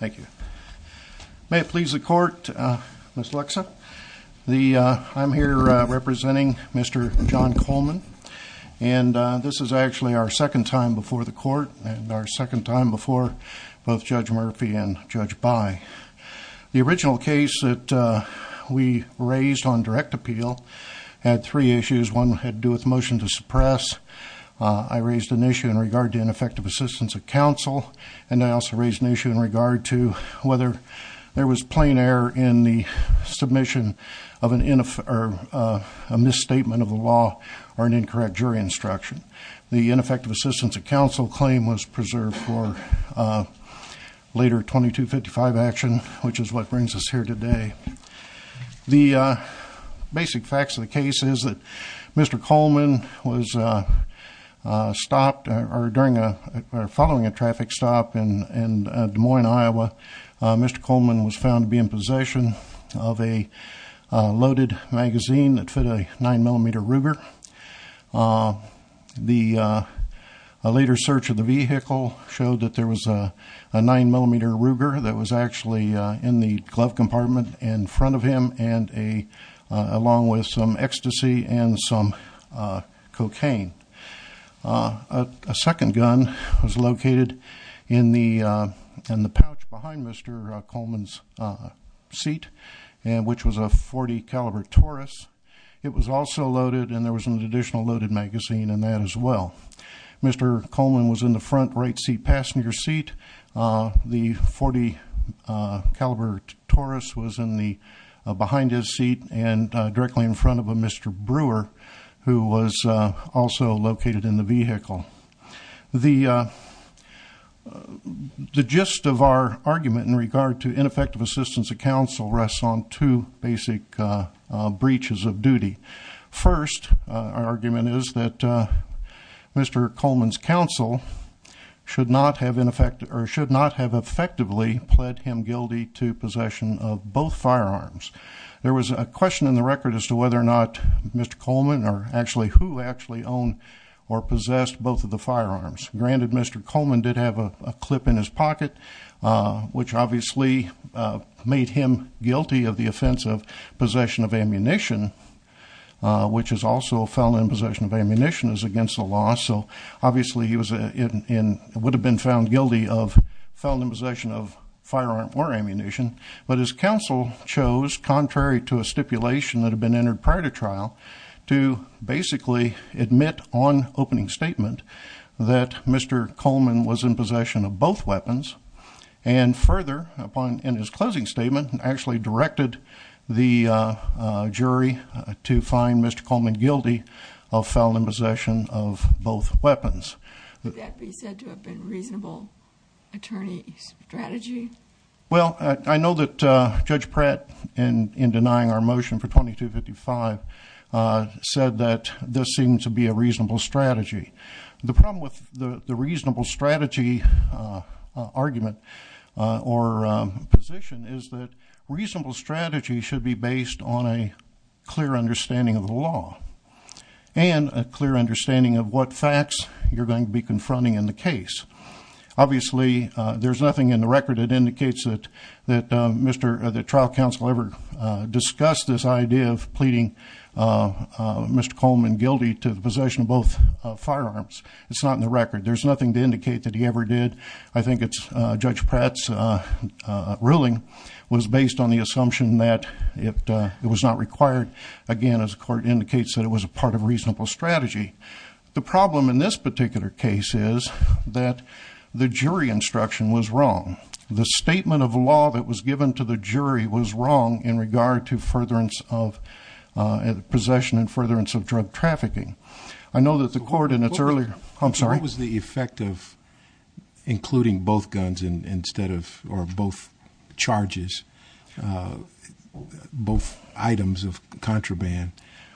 May it please the Court, Ms. Luxa. I'm here representing Mr. John Coleman, and this is actually our second time before the Court, and our second time before both Judge Murphy and Judge By. The original case that we raised on direct appeal had three issues. One had to do with motion to suppress. I raised an issue in regard to ineffective assistance of counsel, and I also raised an issue in regard to whether there was plain error in the submission of a misstatement of the law or an incorrect jury instruction. The ineffective assistance of counsel claim was preserved for later 2255 action, which is what brings us here today. The basic facts of the case is that Mr. Coleman was stopped, or following a traffic stop in Des Moines, Iowa, Mr. Coleman was found to be in possession of a loaded magazine that fit a 9mm Ruger. A later search of the vehicle showed that there was a 9mm Ruger that was actually in the glove compartment in front of him, along with some ecstasy and some cocaine. A second gun was located in the pouch behind Mr. Coleman's seat, which was a .40 caliber Taurus. It was also loaded, and there was an additional loaded magazine in that as well. Mr. Coleman was in the front right seat passenger seat. The .40 caliber Taurus was behind his seat and directly in front of a Mr. Brewer, who was also located in the vehicle. The gist of our argument in regard to ineffective assistance of counsel rests on two basic breaches of duty. First, our argument is that Mr. Coleman's counsel should not have effectively pled him guilty to possession of both firearms. There was a question in the record as to whether or not Mr. Coleman, or who actually owned or possessed both of the firearms. Granted, Mr. Coleman did have a clip in his pocket, which obviously made him guilty of the offense of possession of ammunition, which is also found in possession of ammunition is against the law. So obviously, he would have been found guilty of found in possession of firearm or ammunition. But his counsel chose, contrary to a stipulation that had been entered prior to trial, to basically admit on opening statement that Mr. Coleman was in possession of both weapons. And further, upon in his closing statement, actually directed the jury to find Mr. Coleman guilty of found in possession of both weapons. Would that be said to have been a reasonable attorney's strategy? Well, I know that Judge Pratt, in denying our motion for 2255, said that this seemed to be a reasonable strategy. The problem with the reasonable strategy argument or position is that reasonable strategy should be based on a clear understanding of the law and a clear understanding of what facts you're going to be confronting in the case. Obviously, there's nothing in the record that indicates that trial counsel ever discussed this idea of pleading Mr. Coleman guilty to possession of both firearms. It's not in the record. There's nothing to indicate that he ever did. I think it's Judge Pratt's ruling was based on the assumption that it was not required. Again, as the court indicates, that it was a part of a reasonable strategy. The problem in this particular case is that the jury instruction was wrong. The statement of law that was given to the jury was wrong in regard to furtherance of possession and trafficking. I know that the court in its earlier... I'm sorry? What was the effect of including both guns instead of, or both charges, both items of contraband?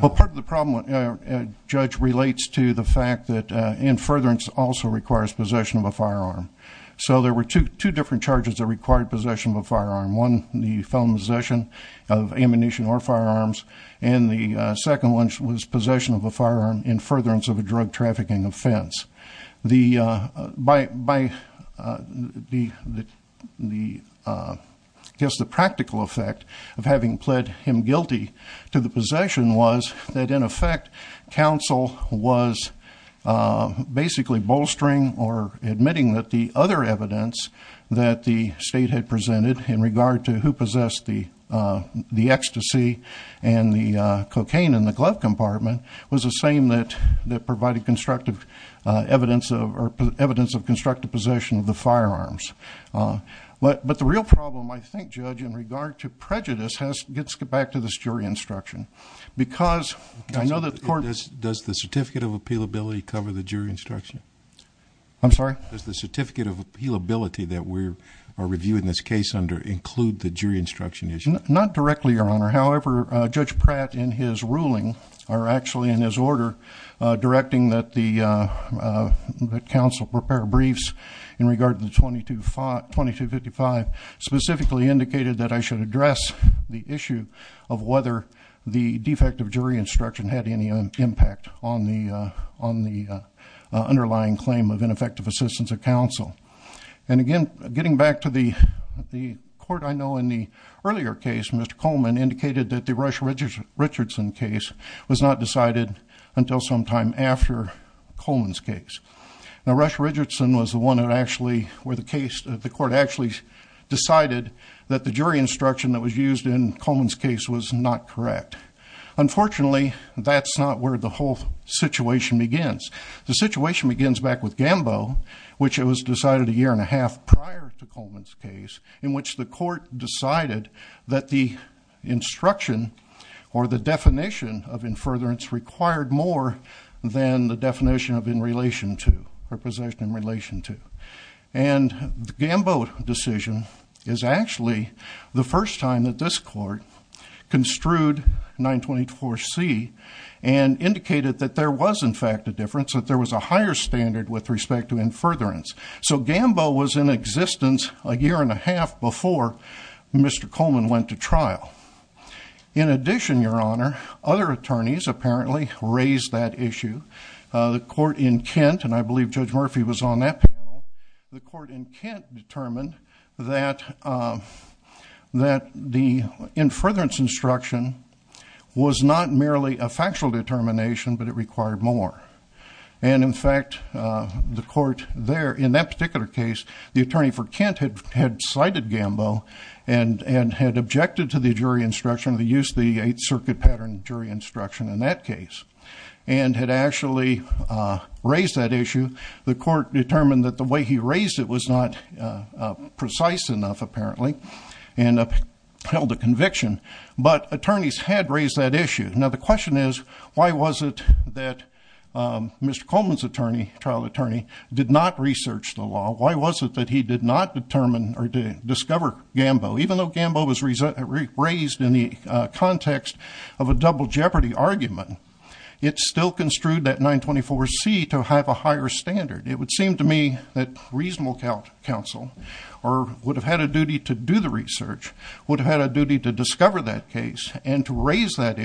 Well, part of the problem, Judge, relates to the fact that in furtherance also requires possession of a firearm. So there were two different charges that required possession of a firearm. One, the felon possession of ammunition or firearms, and the second one was possession of a firearm in furtherance of a drug trafficking offense. I guess the practical effect of having pled him guilty to the possession was that, in effect, counsel was basically bolstering or the state had presented in regard to who possessed the ecstasy and the cocaine in the glove compartment was the same that provided evidence of constructive possession of the firearms. But the real problem, I think, Judge, in regard to prejudice gets back to this jury instruction because I know that the court... Does the certificate of appealability cover or review in this case include the jury instruction issue? Not directly, Your Honor. However, Judge Pratt, in his ruling, or actually in his order directing that the counsel prepare briefs in regard to the 2255, specifically indicated that I should address the issue of whether the defect of jury instruction had any impact on the underlying claim of ineffective assistance of the defendant. In fact, the court I know in the earlier case, Mr. Coleman, indicated that the Rush Richardson case was not decided until sometime after Coleman's case. Now, Rush Richardson was the one that actually where the court actually decided that the jury instruction that was used in Coleman's case was not correct. Unfortunately, that's not where the whole situation begins. The case was decided a year and a half prior to Coleman's case in which the court decided that the instruction or the definition of in furtherance required more than the definition of in relation to or possession in relation to. And the Gambo decision is actually the first time that this court construed 924C and indicated that there was in fact a difference, that there was a higher standard with respect to in furtherance. So Gambo was in existence a year and a half before Mr. Coleman went to trial. In addition, your honor, other attorneys apparently raised that issue. The court in Kent, and I believe Judge Murphy was on that panel, the court in Kent determined that that the in furtherance instruction was not merely a factual determination, but it required more. And in fact, the court there in that particular case, the attorney for Kent had cited Gambo and had objected to the jury instruction, the use of the Eighth Circuit pattern jury instruction in that case and had actually raised that issue. The court determined that the way he raised it was not precise enough apparently and upheld the conviction. But attorneys had raised that issue. Now, the trial attorney did not research the law. Why was it that he did not determine or discover Gambo? Even though Gambo was raised in the context of a double jeopardy argument, it still construed that 924C to have a higher standard. It would seem to me that reasonable counsel would have had a duty to do the research, would have had a duty to discover that case and to raise that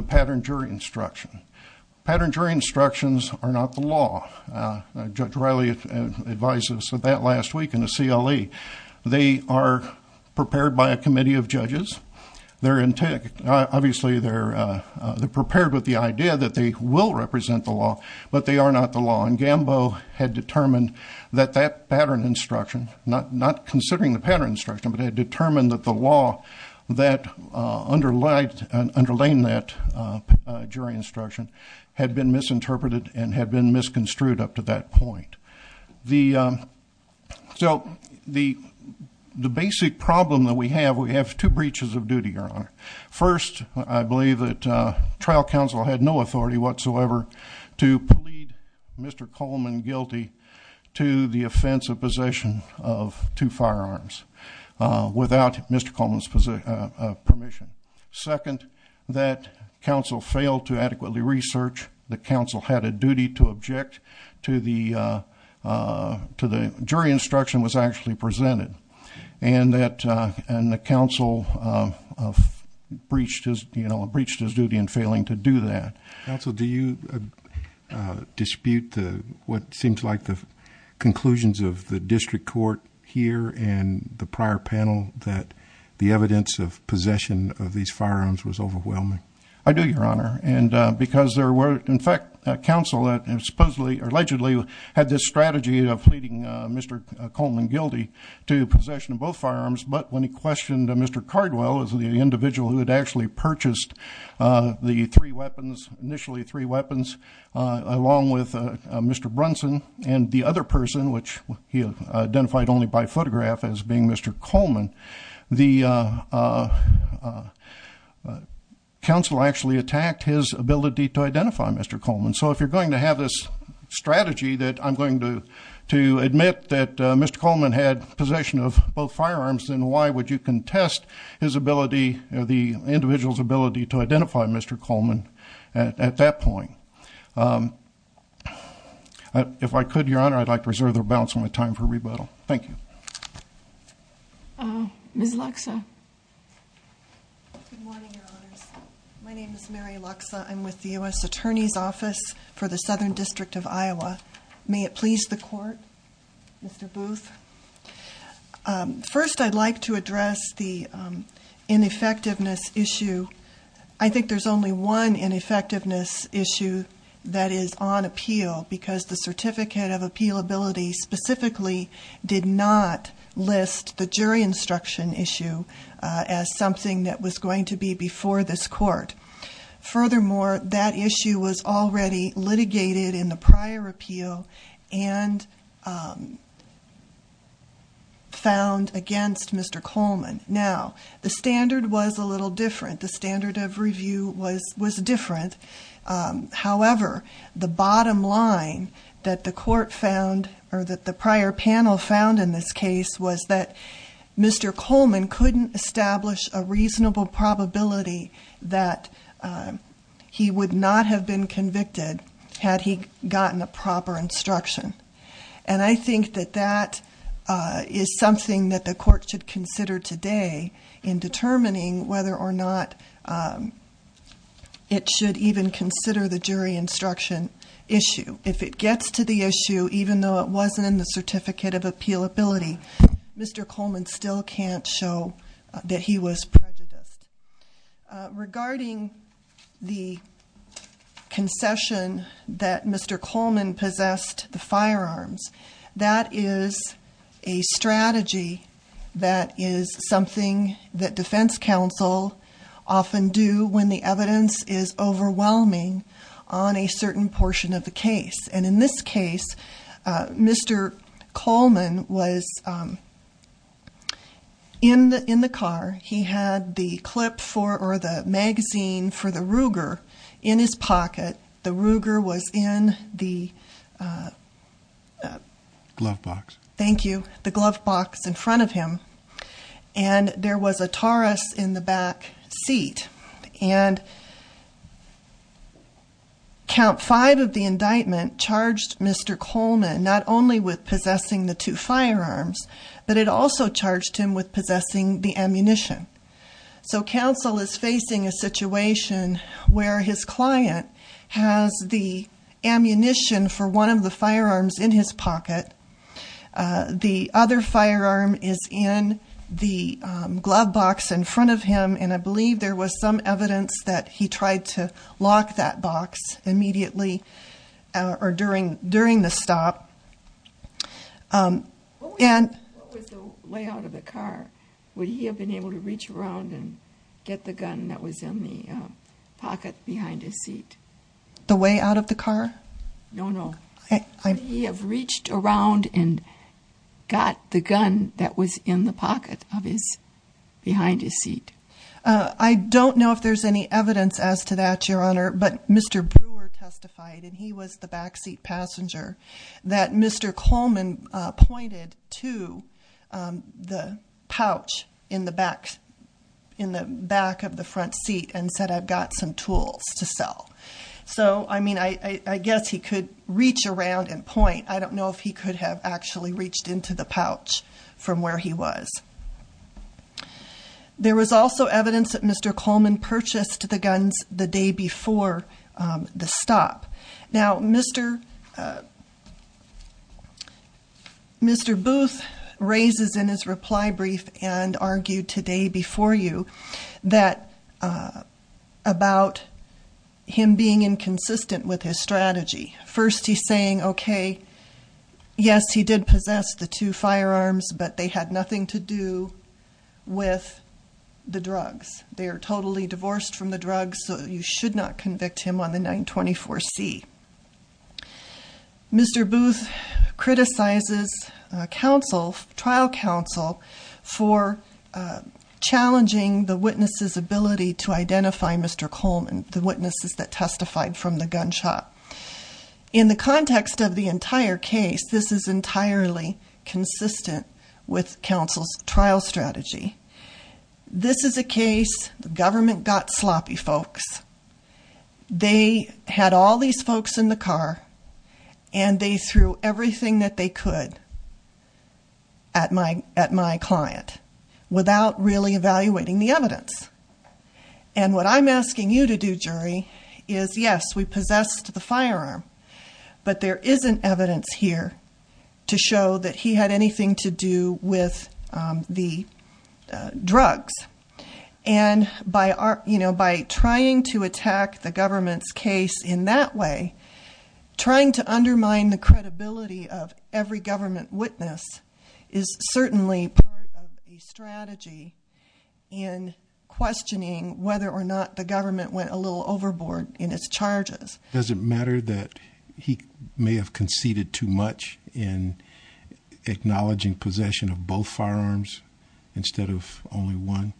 instruction. Pattern jury instructions are not the law. Judge Riley advised us of that last week in the CLE. They are prepared by a committee of judges. They're in tech. Obviously, they're prepared with the idea that they will represent the law, but they are not the law. And Gambo had determined that that pattern instruction, not considering the pattern instruction, but had determined that the law that underlined that jury instruction had been misinterpreted and had been misconstrued up to that point. So the basic problem that we have, we have two breaches of duty, Your Honor. First, I believe that trial counsel had no authority whatsoever to plead Mr. Coleman's possession of two firearms without Mr. Coleman's permission. Second, that counsel failed to adequately research. The counsel had a duty to object to the jury instruction was actually presented. And the counsel breached his duty in failing to do that. Also, do you dispute the what seems like the conclusions of the district court here and the prior panel that the evidence of possession of these firearms was overwhelming? I do, Your Honor. And because there were, in fact, counsel that supposedly allegedly had this strategy of pleading Mr. Coleman guilty to possession of both firearms. But when he questioned Mr. Cardwell as the three weapons, initially three weapons, along with Mr. Brunson and the other person, which he identified only by photograph as being Mr. Coleman, the counsel actually attacked his ability to identify Mr. Coleman. So if you're going to have this strategy that I'm going to admit that Mr. Coleman had possession of both firearms, then why would you contest his ability, the individual's ability to identify Mr. Coleman at that point? If I could, Your Honor, I'd like to reserve the balance of my time for rebuttal. Thank you. Ms. Luxa. My name is Mary Luxa. I'm with the U.S. Attorney's Office for the Southern District of Iowa. May it please the court, Mr. Booth. First, I'd like to address the ineffectiveness issue. I think there's only one ineffectiveness issue that is on appeal because the certificate of appealability specifically did not list the jury instruction issue as something that was going to be before this court. Furthermore, that issue was already litigated in the prior appeal and found against Mr. Coleman. Now, the standard was a little different. The standard of review was different. However, the bottom line that the court found or that the prior panel found in this case was that he would not have been convicted had he gotten a proper instruction. And I think that that is something that the court should consider today in determining whether or not it should even consider the jury instruction issue. If it gets to the issue, even though it wasn't in the certificate of appealability, Mr. Coleman still can't show that he was prejudiced. Regarding the concession that Mr. Coleman possessed the firearms, that is a strategy that is something that defense counsel often do when the evidence is overwhelming on a certain portion of the case. And in this case, Mr. Coleman was in the car. He had the clip for or the magazine for the Ruger in his pocket. The Ruger was in the glove box. Thank you. The glove box in front of him. And there was a Taurus in the back seat. And count five of the indictment charged Mr. Coleman not only with possessing the two firearms, but it also charged him with possessing the ammunition. So counsel is facing a situation where his client has the ammunition for one of the firearms in his pocket. The other firearm is in the glove box in front of him. And I believe there was some evidence that he tried to lock that box immediately or during during the stop. And way out of the car, would he have been able to reach around and get the gun that was in the pocket behind his seat the way out of the car? No, no. He have reached around and got the gun that was in the pocket of his behind his seat. I don't know if there's any evidence as to that, your honor. But Mr. Brewer testified and he was the backseat passenger that Mr. Coleman pointed to the pouch in the back in the back of the front seat and said, I've got some tools to sell. So, I mean, I guess he could reach around and point. I don't know if he could have actually reached into the pouch from where he was. There was also evidence that Mr. Coleman purchased the guns the day before the stop. Now, Mr. Booth raises in his reply brief and that about him being inconsistent with his strategy. First, he's saying, okay, yes, he did possess the two firearms, but they had nothing to do with the drugs. They are totally divorced from the drugs, so you should not convict him on the 924C. Mr. Booth criticizes trial counsel for challenging the witness's ability to identify Mr. Coleman, the witnesses that testified from the gunshot. In the context of the entire case, this is entirely consistent with counsel's trial strategy. This is a case, the government got sloppy folks. They had all these folks in the car and they threw everything that they could at my client. Without really evaluating the evidence. And what I'm asking you to do, jury, is yes, we possessed the firearm. But there isn't evidence here to show that he had anything to do with the drugs. And by trying to attack the government's case in that way, trying to undermine the credibility of every government witness is certainly part of the strategy. In questioning whether or not the government went a little overboard in its charges. Does it matter that he may have conceded too much in acknowledging possession of both firearms instead of only one?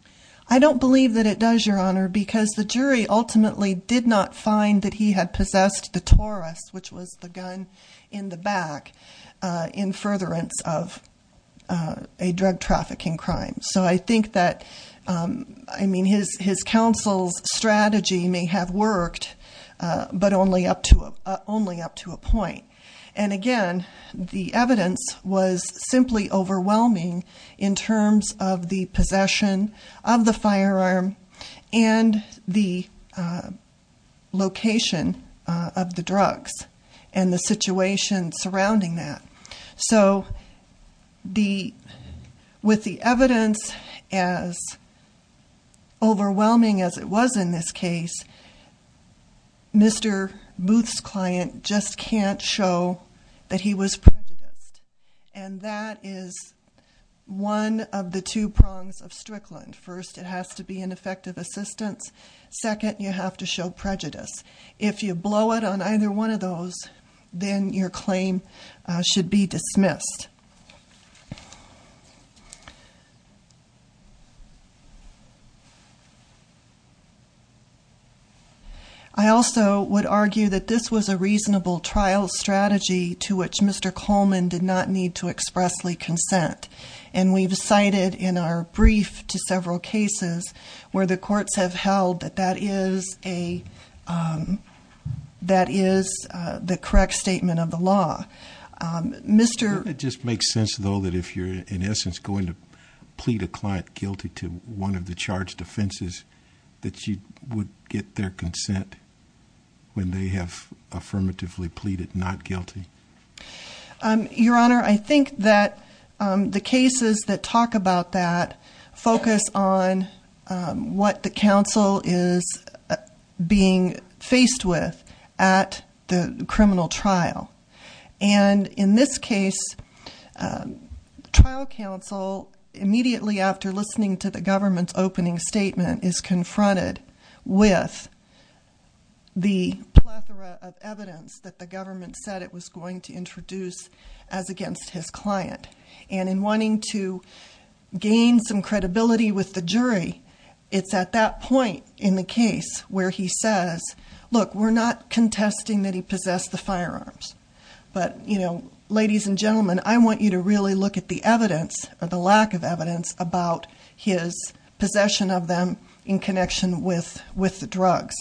I don't believe that it does, Your Honor, because the jury ultimately did not find that he had possessed the Taurus, which was the gun in the back, in furtherance of a drug trafficking crime. So I think that, I mean, his counsel's strategy may have worked. But only up to a point. And again, the evidence was simply overwhelming in terms of the possession of the firearm and the location of the drugs. And the situation surrounding that. So with the evidence as overwhelming as it was in this case, Mr. Booth's client just can't show that he was prejudiced. And that is one of the two prongs of Strickland. First, it has to be an effective assistance. Second, you have to show prejudice. If you blow it on either one of those, then your claim should be dismissed. I also would argue that this was a reasonable trial strategy to which Mr. Coleman did not need to expressly consent. And we've cited in our brief to several cases where the courts have held that that is a, that is the correct statement of the law. Mr- Your Honor, I think that the cases that talk about that focus on what the counsel is being faced with at the criminal trial. And in this case, the trial counsel immediately after listening to the government's The plethora of evidence that the government said it was going to introduce as against his client. And in wanting to gain some credibility with the jury, it's at that point in the case where he says, look, we're not contesting that he possessed the firearms. But ladies and gentlemen, I want you to really look at the evidence, or his possession of them in connection with the drugs.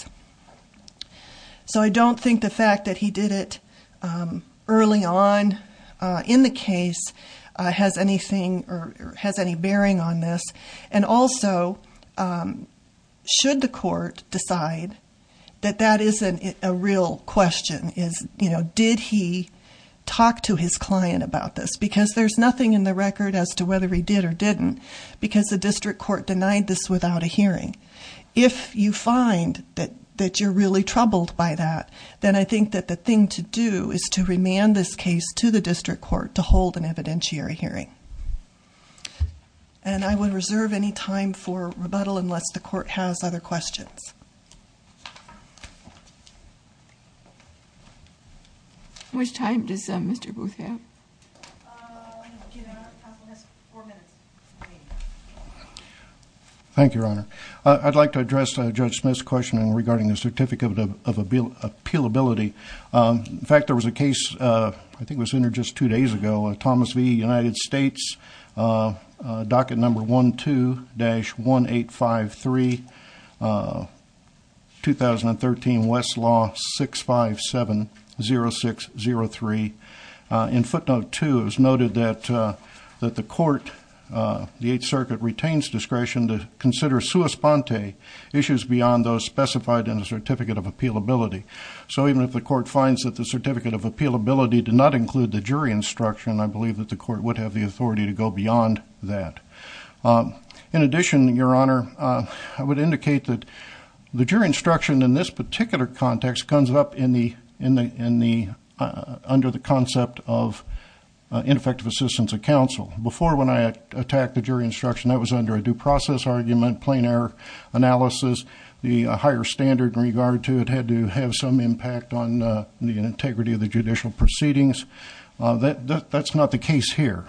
So I don't think the fact that he did it early on in the case has anything, or has any bearing on this. And also, should the court decide that that isn't a real question, is did he talk to his client about this, because there's nothing in the record as to whether he did or didn't. Because the district court denied this without a hearing. If you find that you're really troubled by that, then I think that the thing to do is to remand this case to the district court to hold an evidentiary hearing. And I would reserve any time for rebuttal unless the court has other questions. Which time does Mr. Booth have? Your Honor, counsel has four minutes remaining. Thank you, Your Honor. I'd like to address Judge Smith's question regarding the certificate of appealability. In fact, there was a case, I think it was in there just two days ago, Thomas V United States, docket number 12-1853. 2013, Westlaw 6570603. In footnote two, it was noted that the court, the Eighth Circuit, retains discretion to consider sua sponte issues beyond those specified in the certificate of appealability. So even if the court finds that the certificate of appealability did not include the jury instruction, I believe that the court would have the authority to go beyond that. In addition, Your Honor, I would indicate that the jury instruction in this particular context comes up under the concept of ineffective assistance of counsel. Before, when I attacked the jury instruction, that was under a due process argument, plain error analysis. The higher standard in regard to it had to have some impact on the integrity of the judicial proceedings. That's not the case here.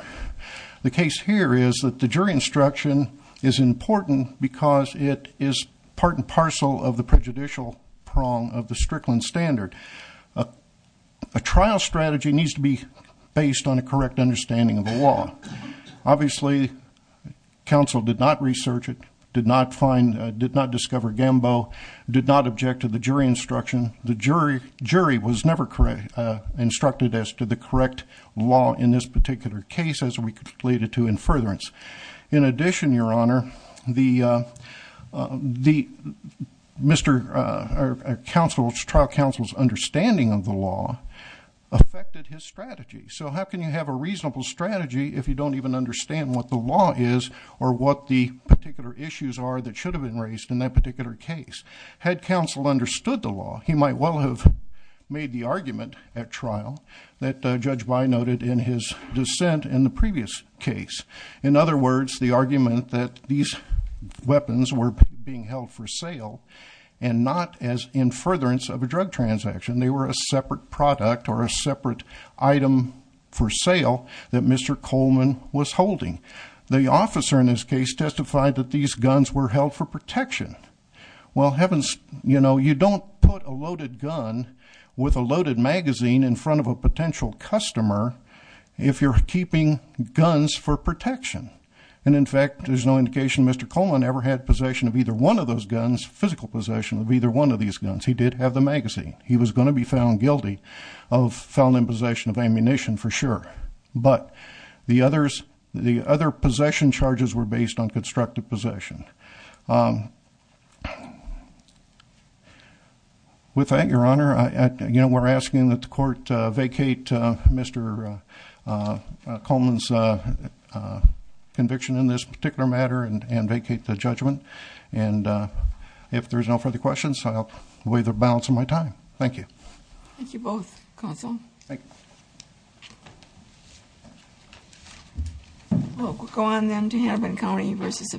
The case here is that the jury instruction is important because it is part and parcel of the prejudicial prong of the Strickland standard. A trial strategy needs to be based on a correct understanding of the law. Obviously, counsel did not research it, did not discover Gambo, did not object to the jury instruction. The jury was never instructed as to the correct law in this particular case as we related to in furtherance. In addition, Your Honor, the trial counsel's understanding of the law affected his strategy. So how can you have a reasonable strategy if you don't even understand what the law is or what the particular issues are that should have been raised in that particular case? Had counsel understood the law, he might well have made the argument at trial that Judge By noted in his dissent in the previous case. In other words, the argument that these weapons were being held for sale and not as in furtherance of a drug transaction, they were a separate product or a separate item for sale that Mr. Coleman was holding. The officer in this case testified that these guns were held for protection. Well, you don't put a loaded gun with a loaded magazine in front of a potential customer if you're keeping guns for protection. And in fact, there's no indication Mr. Coleman ever had possession of either one of those guns, physical possession of either one of these guns. He did have the magazine. He was going to be found guilty of felony possession of ammunition for sure. But the other possession charges were based on constructive possession. With that, your honor, we're asking that the court vacate Mr. Coleman's conviction in this particular matter and vacate the judgment. And if there's no further questions, I'll waive the balance of my time. Thank you. Thank you both, counsel. Thank you. We'll go on then to Hannibin County versus.